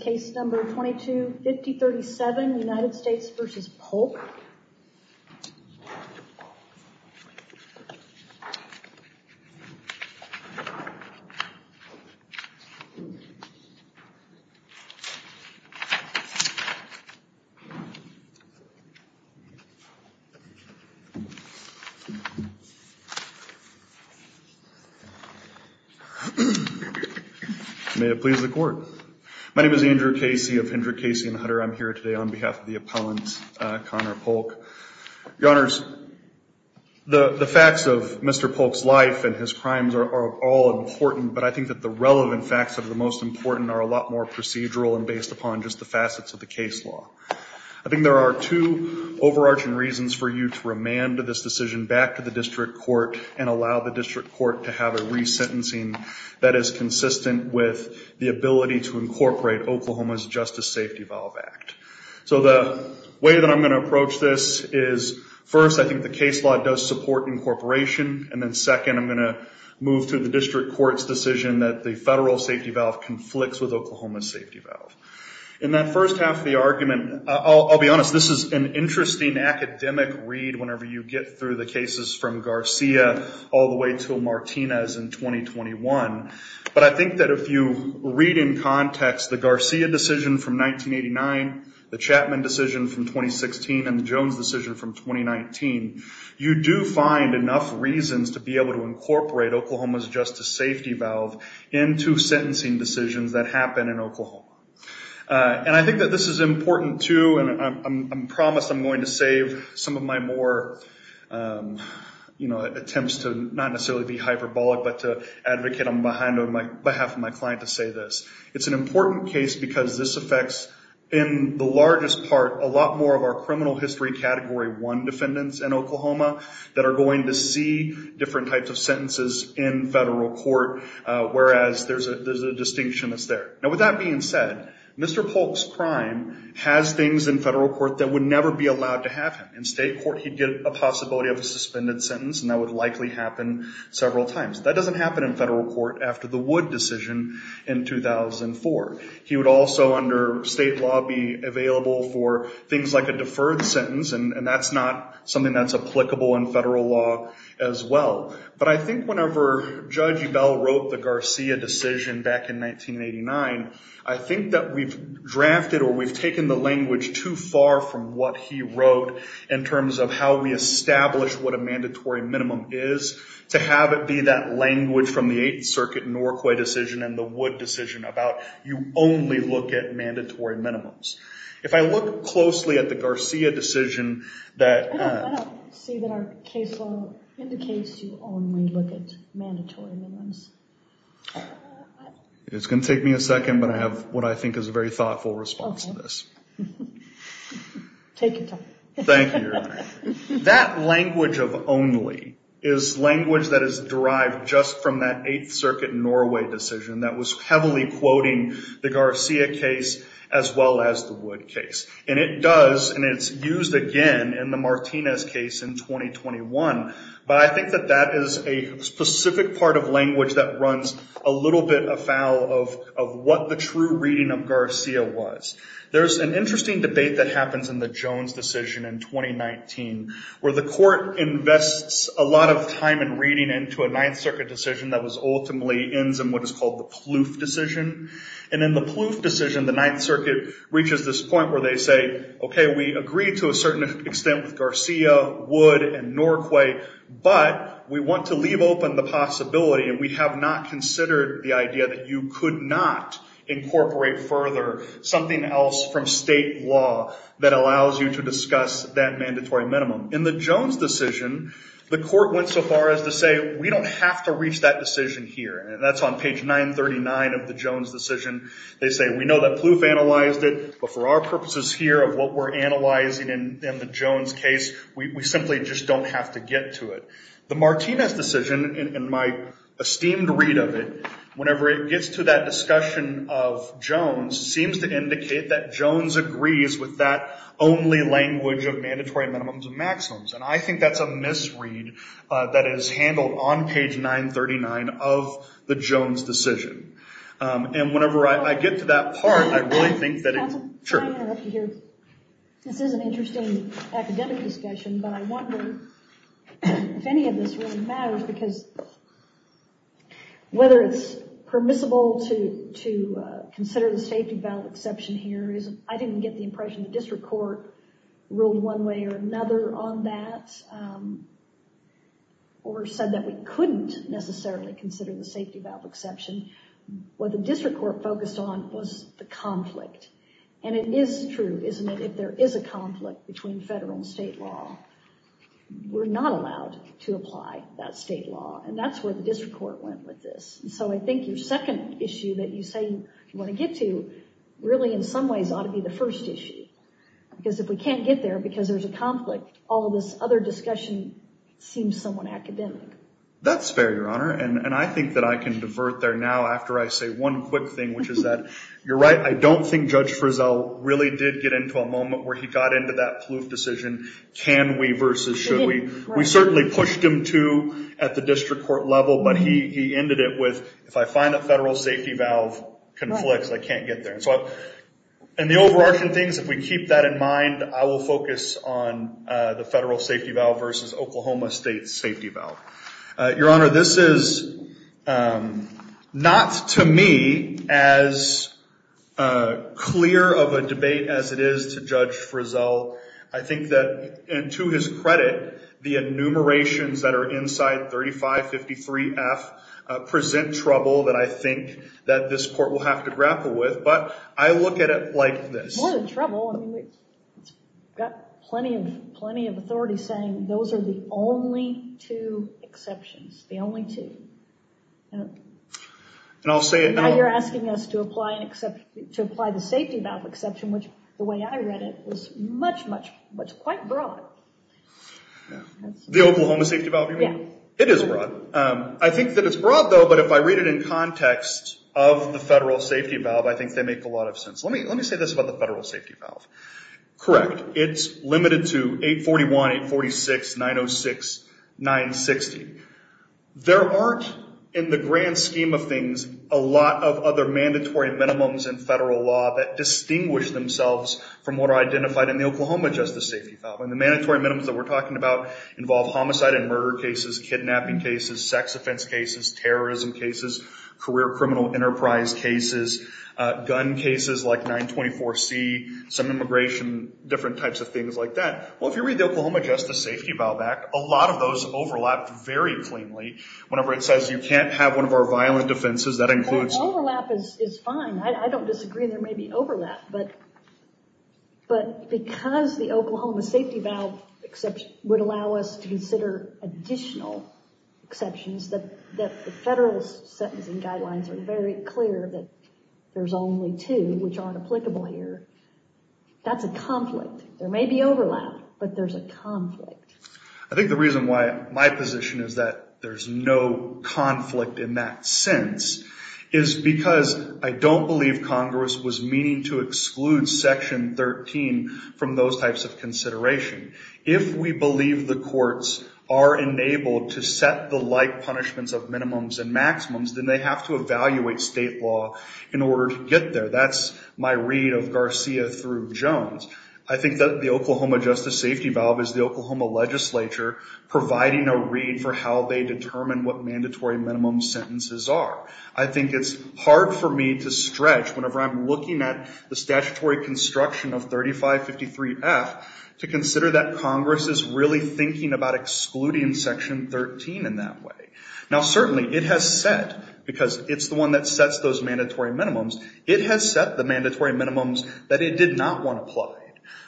Case number 22-5037 United States v. Polk May it please the court. My name is Andrew Casey of Hendrick, Casey & Hutter. I'm here today on behalf of the appellant, Conor Polk. Your honors, the facts of Mr. Polk's life and his crimes are all important, but I think that the relevant facts that are the most important are a lot more procedural and based upon just the facets of the case law. I think there are two overarching reasons for you to remand this decision back to the district court and allow the district court to have a resentencing that is consistent with the ability to incorporate Oklahoma's Justice Safety Valve Act. So the way that I'm going to approach this is, first, I think the case law does support incorporation. And then second, I'm going to move to the district court's decision that the federal safety valve conflicts with Oklahoma's safety valve. In that first half of the argument, I'll be honest, this is an interesting academic read whenever you get through the cases from Garcia all the way to Martinez in 2021. But I think that if you read in context the Garcia decision from 1989, the Chapman decision from 2016, and the Jones decision from 2019, you do find enough reasons to be able to incorporate Oklahoma's justice safety valve into sentencing decisions that happen in Oklahoma. And I think that this is important, too, and I'm promised I'm going to save some of my more attempts to not necessarily be hyperbolic, but to advocate on behalf of my client to say this. It's an important case because this affects, in the largest part, a lot more of our criminal history category one defendants in Oklahoma that are going to see different types of sentences in federal court, whereas there's a distinction that's there. Now with that being said, Mr. Polk's crime has things in federal court that would never be allowed to have him. In state court, he'd get a possibility of a suspended sentence, and that would likely happen several times. That doesn't happen in federal court after the Wood decision in 2004. He would also, under state law, be available for things like a deferred sentence, and that's not something that's applicable in federal law as well. But I think whenever Judge Ebell wrote the Garcia decision back in 1989, I think that we've drafted or we've taken the language too far from what he wrote, in terms of how we establish what a mandatory minimum is, to have it be that language from the Eighth Circuit Norquay decision and the Wood decision about, you only look at mandatory minimums. If I look closely at the Garcia decision that... I don't see that our case law indicates you only look at mandatory minimums. It's gonna take me a second, but I have what I think is a very thoughtful response to this. Take your time. Thank you, Your Honor. That language of only is language that is derived just from that Eighth Circuit Norquay decision that was heavily quoting the Garcia case as well as the Wood case. And it does, and it's used again in the Martinez case in 2021, but I think that that is a specific part of language that runs a little bit afoul of what the true reading of Garcia was. There's an interesting debate that happens in the Jones decision in 2019, where the court invests a lot of time and reading into a Ninth Circuit decision that ultimately ends in what is called the Plouffe decision. And in the Plouffe decision, the Ninth Circuit reaches this point where they say, okay, we agree to a certain extent with Garcia, Wood, and Norquay, but we want to leave open the possibility, and we have not considered the idea that you could not incorporate further something else from state law that allows you to discuss that mandatory minimum. In the Jones decision, the court went so far as to say, we don't have to reach that decision here. That's on page 939 of the Jones decision. They say, we know that Plouffe analyzed it, but for our purposes here of what we're analyzing in the Jones case, we simply just don't have to get to it. The Martinez decision, in my esteemed read of it, whenever it gets to that discussion of Jones, seems to indicate that Jones agrees with that only language of mandatory minimums and maximums, and I think that's a misread that is handled on page 939 of the Jones decision. And whenever I get to that part, I really think that it, sure. This is an interesting academic discussion, but I wonder if any of this really matters, because whether it's permissible to consider the safety valve exception here is, I didn't get the impression the district court ruled one way or another on that, or said that we couldn't necessarily consider the safety valve exception. What the district court focused on was the conflict, and it is true, isn't it, if there is a conflict between federal and state law. We're not allowed to apply that state law, and that's where the district court went with this. So I think your second issue that you say you wanna get to, really, in some ways, ought to be the first issue, because if we can't get there because there's a conflict, all this other discussion seems somewhat academic. That's fair, Your Honor, and I think that I can divert there now after I say one quick thing, which is that, you're right, I don't think Judge Frizzell really did get into a moment where he got into that poof decision, can we versus should we. We certainly pushed him to at the district court level, but he ended it with, if I find a federal safety valve conflict, I can't get there. So, and the overarching things, if we keep that in mind, I will focus on the federal safety valve versus Oklahoma State's safety valve. Your Honor, this is not, to me, as clear of a debate as it is to Judge Frizzell I think that, and to his credit, the enumerations that are inside 3553F present trouble that I think that this court will have to grapple with, but I look at it like this. More than trouble, I mean, we've got plenty of authority saying those are the only two exceptions, the only two. And I'll say it now. Now you're asking us to apply the safety valve exception, which, the way I read it, was much, much, quite broad. The Oklahoma safety valve, you mean? Yeah. It is broad. I think that it's broad, though, but if I read it in context of the federal safety valve, I think they make a lot of sense. Let me say this about the federal safety valve. Correct, it's limited to 841, 846, 906, 960. There aren't, in the grand scheme of things, a lot of other mandatory minimums in federal law that distinguish themselves from what are identified in the Oklahoma Justice Safety Valve. And the mandatory minimums that we're talking about involve homicide and murder cases, kidnapping cases, sex offense cases, terrorism cases, career criminal enterprise cases, gun cases like 924C, some immigration, different types of things like that. Well, if you read the Oklahoma Justice Safety Valve Act, a lot of those overlap very cleanly. Whenever it says you can't have one of our violent offenses, that includes. Overlap is fine. I don't disagree there may be overlap, but because the Oklahoma Safety Valve would allow us to consider additional exceptions, that the federal sentencing guidelines are very clear that there's only two, which aren't applicable here, that's a conflict. There may be overlap, but there's a conflict. I think the reason why my position is that there's no conflict in that sense is because I don't believe Congress was meaning to exclude Section 13 from those types of consideration. If we believe the courts are enabled to set the like punishments of minimums and maximums, then they have to evaluate state law in order to get there. That's my read of Garcia through Jones. I think that the Oklahoma Justice Safety Valve is the Oklahoma legislature providing a read for how they determine what mandatory minimum sentences are. I think it's hard for me to stretch whenever I'm looking at the statutory construction of 3553F to consider that Congress is really thinking about excluding Section 13 in that way. Now certainly it has set, because it's the one that sets those mandatory minimums, it has set the mandatory minimums that it did not want applied.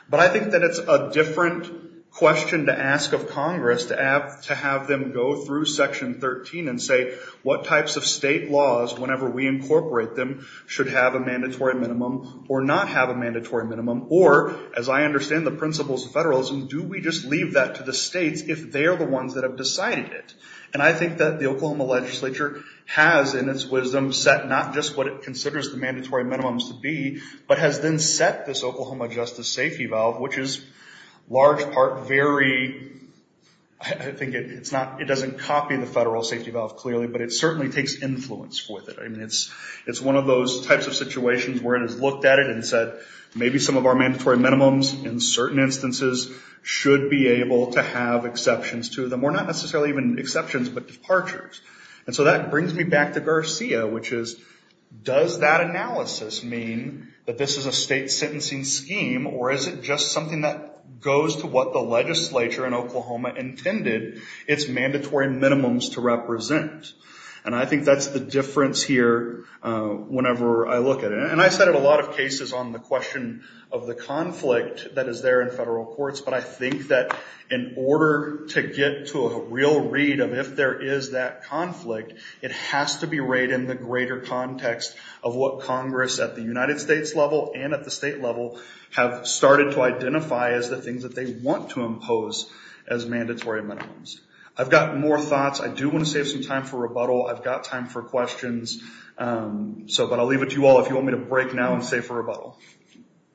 But I think that it's a different question to ask of Congress to have them go through Section 13 and say, what types of state laws, whenever we incorporate them, should have a mandatory minimum or not have a mandatory minimum? Or, as I understand the principles of federalism, do we just leave that to the states if they are the ones that have decided it? And I think that the Oklahoma legislature has, in its wisdom, set not just what it considers the mandatory minimums to be, but has then set this Oklahoma Justice Safety Valve, which is large part very, I think it's not, it doesn't copy the federal safety valve clearly, but it certainly takes influence with it. I mean, it's one of those types of situations where it has looked at it and said, maybe some of our mandatory minimums, in certain instances, should be able to have exceptions to them, or not necessarily even exceptions, but departures. And so that brings me back to Garcia, which is, does that analysis mean that this is a state sentencing scheme, or is it just something that goes to what the legislature in Oklahoma intended its mandatory minimums to represent? And I think that's the difference here whenever I look at it. And I cited a lot of cases on the question of the conflict that is there in federal courts, but I think that in order to get to a real read of if there is that conflict, it has to be right in the greater context of what Congress, at the United States level and at the state level, have started to identify as the things that they want to impose as mandatory minimums. I've got more thoughts. I do want to save some time for rebuttal. I've got time for questions. So, but I'll leave it to you all. If you want me to break now and save for rebuttal.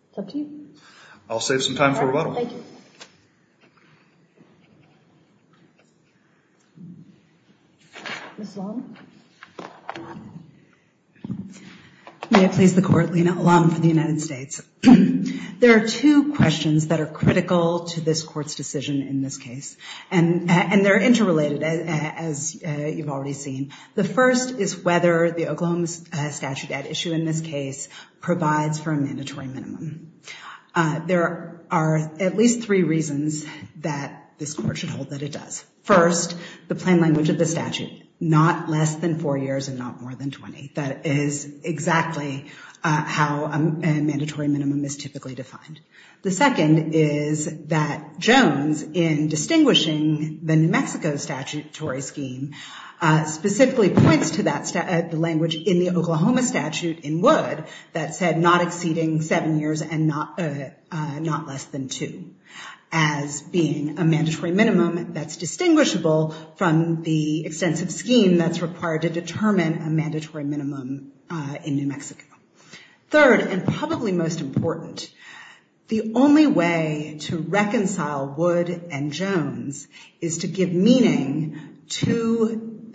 It's up to you. I'll save some time for rebuttal. Thank you. Ms. Long. May I please the court, Lina Alam for the United States. There are two questions that are critical to this court's decision in this case. And they're interrelated as you've already seen. The first is whether the Oklahoma statute at issue in this case provides for a mandatory minimum. There are at least three reasons that this court should hold that it does. First, the plain language of the statute, not less than four years and not more than 20. That is exactly how a mandatory minimum is typically defined. The second is that Jones, in distinguishing the New Mexico statutory scheme, specifically points to the language in the Oklahoma statute in Wood, that said not exceeding seven years and not less than two. As being a mandatory minimum that's distinguishable from the extensive scheme that's required to determine a mandatory minimum in New Mexico. Third, and probably most important, the only way to reconcile Wood and Jones is to give meaning to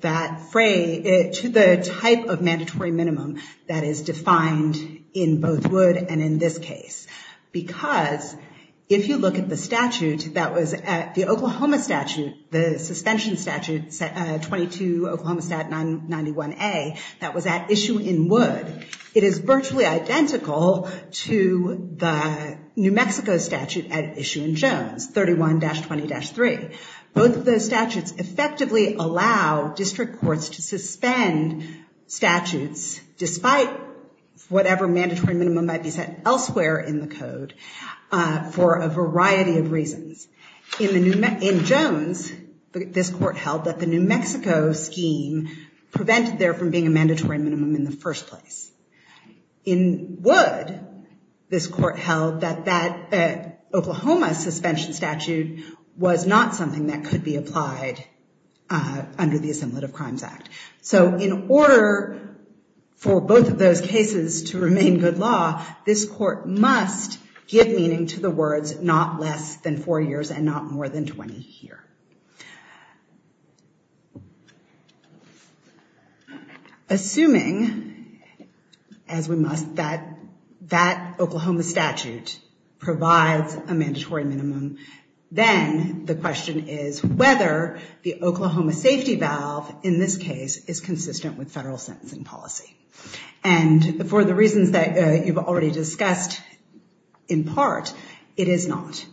the type of mandatory minimum that is defined in both Wood and in this case. Because if you look at the statute that was at the Oklahoma statute, the suspension statute 22 Oklahoma stat 991A that was at issue in Wood, it is virtually identical to the New Mexico statute at issue in Jones, 31-20-3. Both of those statutes effectively allow district courts to suspend statutes despite whatever mandatory minimum might be set elsewhere in the code for a variety of reasons. In Jones, this court held that the New Mexico scheme prevented there from being a mandatory minimum in the first place. In Wood, this court held that Oklahoma suspension statute was not something that could be applied under the Assemblative Crimes Act. So in order for both of those cases to remain good law, this court must give meaning to the words not less than four years and not more than 20 here. Assuming, as we must, that that Oklahoma statute provides a mandatory minimum, then the question is whether the Oklahoma safety valve in this case is consistent with federal sentencing policy. And for the reasons that you've already discussed in part, it is not.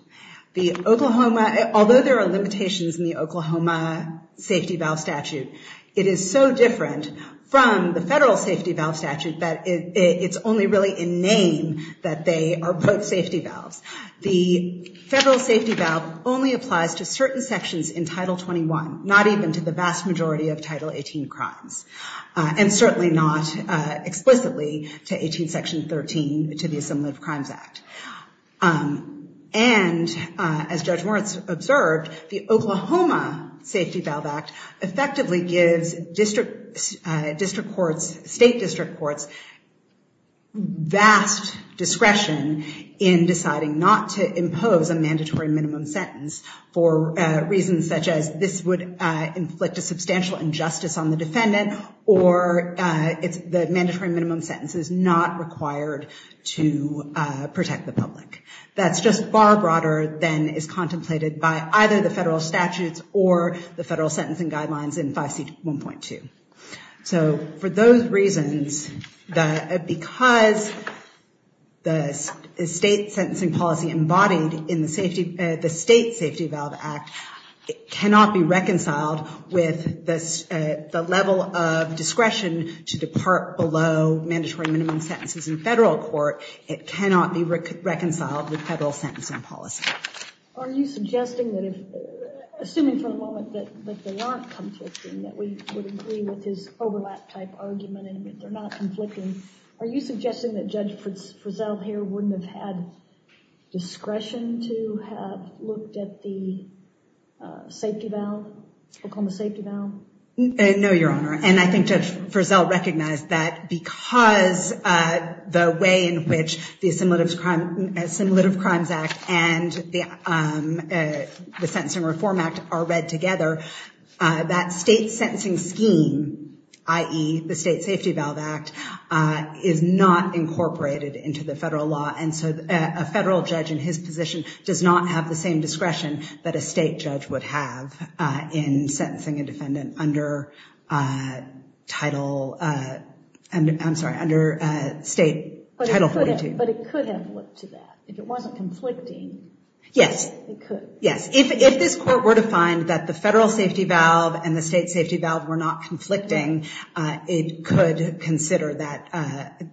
The Oklahoma, although there are limitations in the Oklahoma safety valve statute, it is so different from the federal safety valve statute that it's only really in name that they are both safety valves. The federal safety valve only applies to certain sections in Title 21, not even to the vast majority of Title 18 crimes. And certainly not explicitly to 18 Section 13 to the Assemblative Crimes Act. And as Judge Moritz observed, the Oklahoma Safety Valve Act effectively gives district courts, state district courts, vast discretion in deciding not to impose a mandatory minimum sentence for reasons such as this would inflict a substantial injustice on the defendant or the mandatory minimum sentence is not required to protect the public. That's just far broader than is contemplated by either the federal statutes or the federal sentencing guidelines in 5C1.2. So for those reasons, because the state sentencing policy embodied in the State Safety Valve Act cannot be reconciled with the level of discretion to depart below mandatory minimum sentences in federal court, it cannot be reconciled with federal sentencing policy. Are you suggesting that if, assuming for a moment that they aren't conflicting, that we would agree with this overlap type argument and that they're not conflicting, are you suggesting that Judge Frizzell here wouldn't have had discretion to have looked at the safety valve, Oklahoma safety valve? No, Your Honor. And I think Judge Frizzell recognized that because the way in which the Assimilative Crimes Act and the Sentencing Reform Act are read together, that state sentencing scheme, i.e. the State Safety Valve Act, is not incorporated into the federal law. And so a federal judge in his position does not have the same discretion that a state judge would have in sentencing a defendant under title, I'm sorry, under state title 42. But it could have looked to that, if it wasn't conflicting. Yes. It could. Yes, if this court were to find that the federal safety valve and the state safety valve were not conflicting, it could consider that,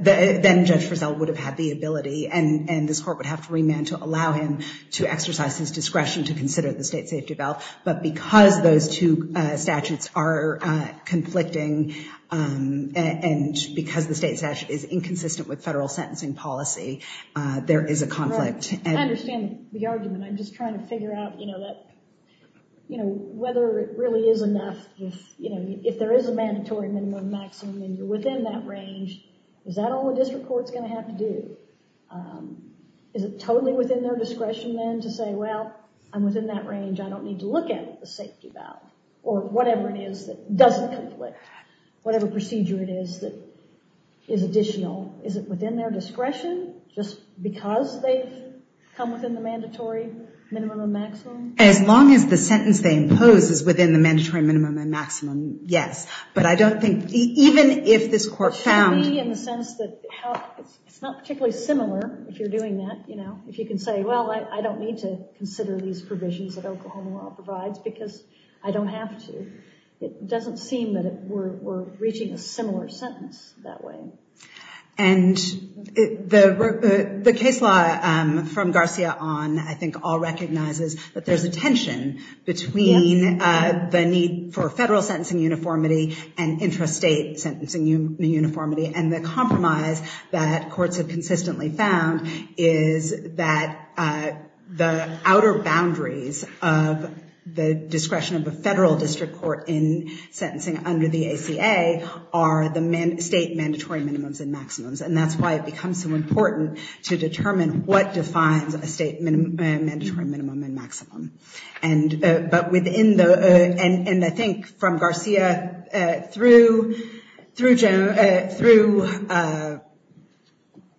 then Judge Frizzell would have had the ability and this court would have to remand to allow him to exercise his discretion to consider the state safety valve. But because those two statutes are conflicting and because the state statute is inconsistent with federal sentencing policy, there is a conflict. I understand the argument. I'm just trying to figure out whether it really is enough, if there is a mandatory minimum and maximum and you're within that range, is that all a district court's gonna have to do? Is it totally within their discretion then to say, well, I'm within that range, I don't need to look at the safety valve or whatever it is that doesn't conflict, whatever procedure it is that is additional, is it within their discretion just because they've come within the mandatory minimum and maximum? As long as the sentence they impose is within the mandatory minimum and maximum, yes. But I don't think, even if this court found- It should be in the sense that it's not particularly similar if you're doing that. If you can say, well, I don't need to consider these provisions that Oklahoma law provides because I don't have to. It doesn't seem that we're reaching a similar sentence that way. And the case law from Garcia on, I think all recognizes that there's a tension between the need for federal sentencing uniformity and intrastate sentencing uniformity and the compromise that courts have consistently found is that the outer boundaries of the discretion of a federal district court in sentencing under the ACA are the state mandatory minimums and maximums. And that's why it becomes so important to determine what defines a state mandatory minimum and maximum. But within the, and I think from Garcia through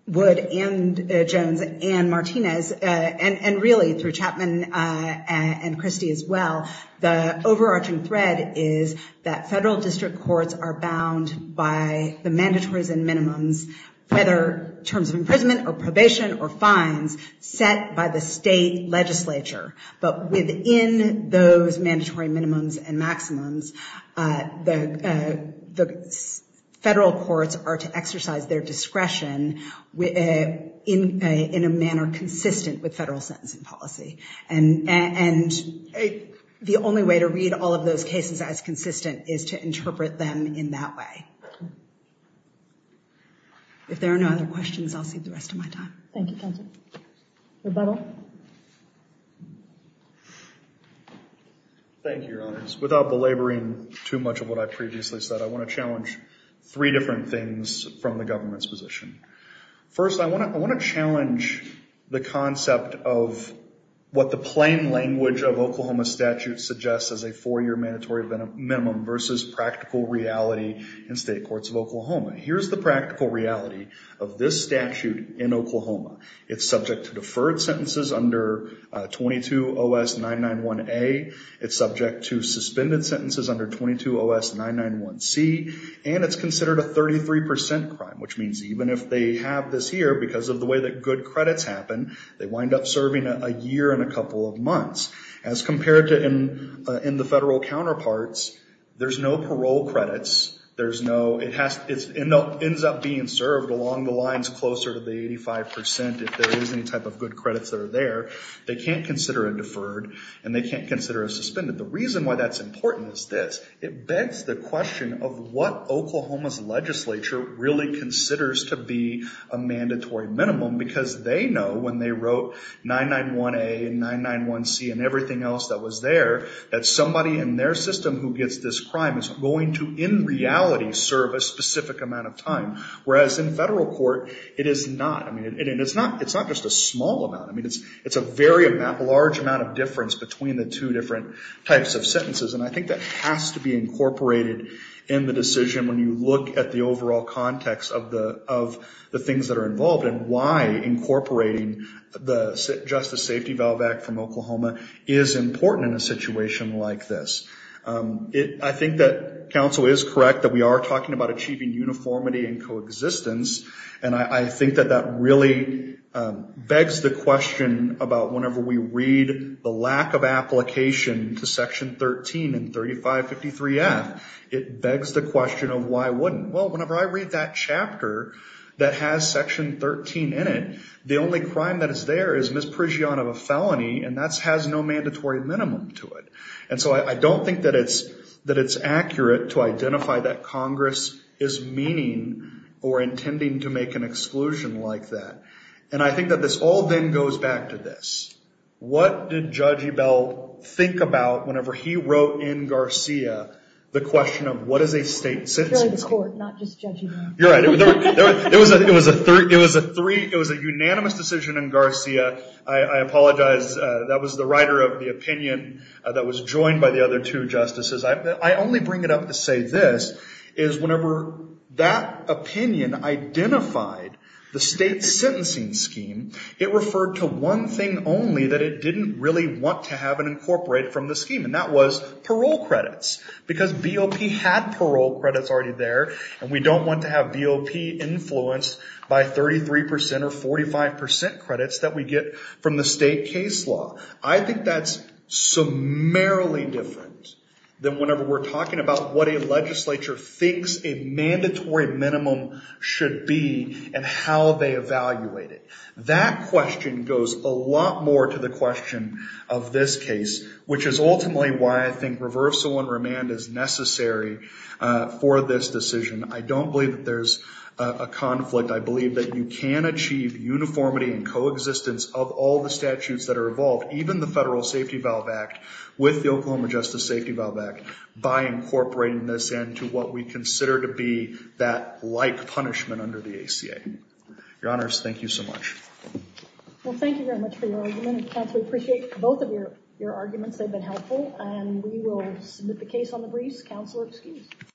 Wood and Jones and Martinez, and really through Chapman and Christie as well, the overarching thread is that federal district courts are bound by the mandatories and minimums, whether terms of imprisonment or probation or fines set by the state legislature. But within those mandatory minimums and maximums, the federal courts are to exercise their discretion in a manner consistent with federal sentencing policy. And the only way to read all of those cases as consistent is to interpret them in that way. If there are no other questions, I'll save the rest of my time. Thank you, counsel. Rebuttal. Thank you, Your Honors. Without belaboring too much of what I previously said, I want to challenge three different things from the government's position. First, I want to challenge the concept of what the plain language of Oklahoma statute suggests as a four-year mandatory minimum versus practical reality in state courts of Oklahoma. Here's the practical reality of this statute in Oklahoma. It's subject to deferred sentences under 22 OS 991A. It's subject to suspended sentences under 22 OS 991C. And it's considered a 33% crime, which means even if they have this here, because of the way that good credits happen, they wind up serving a year and a couple of months. As compared to in the federal counterparts, there's no parole credits. There's no, it ends up being served along the lines closer to the 85% if there is any type of good credits that are there. They can't consider it deferred. And they can't consider it suspended. The reason why that's important is this. It begs the question of what Oklahoma's legislature really considers to be a mandatory minimum because they know when they wrote 991A and 991C and everything else that was there, that somebody in their system who gets this crime is going to, in reality, serve a specific amount of time. Whereas in federal court, it is not. I mean, it's not just a small amount. I mean, it's a very large amount of difference between the two different types of sentences. And I think that has to be incorporated in the decision when you look at the overall context of the things that are involved and why incorporating the Justice Safety Valve Act from Oklahoma is important in a situation like this. I think that counsel is correct that we are talking about achieving uniformity and coexistence. And I think that that really begs the question about whenever we read the lack of application to Section 13 and 3553F, it begs the question of why wouldn't? Well, whenever I read that chapter that has Section 13 in it, the only crime that is there is misprision of a felony and that has no mandatory minimum to it. And so I don't think that it's accurate to identify that Congress is meaning or intending to make an exclusion like that. And I think that this all then goes back to this. What did Judge Ebel think about whenever he wrote in Garcia the question of what is a state sentencing scheme? It's really the court, not just Judge Ebel. You're right. It was a unanimous decision in Garcia. I apologize. That was the writer of the opinion that was joined by the other two justices. I only bring it up to say this is whenever that opinion identified the state sentencing scheme, it referred to one thing only that it didn't really want to have and incorporate from the scheme, and that was parole credits because BOP had parole credits already there and we don't want to have BOP influenced by 33% or 45% credits that we get from the state case law. I think that's summarily different than whenever we're talking about what a legislature thinks a mandatory minimum should be and how they evaluate it. That question goes a lot more to the question of this case, which is ultimately why I think reversal and remand is necessary for this decision. I don't believe that there's a conflict. I believe that you can achieve uniformity and coexistence of all the statutes that are involved, even the Federal Safety Valve Act with the Oklahoma Justice Safety Valve Act by incorporating this into what we consider to be that like punishment under the ACA. Your Honors, thank you so much. Well, thank you very much for your argument. Counselor, we appreciate both of your arguments. They've been helpful, and we will submit the case on the briefs. Counselor, excused.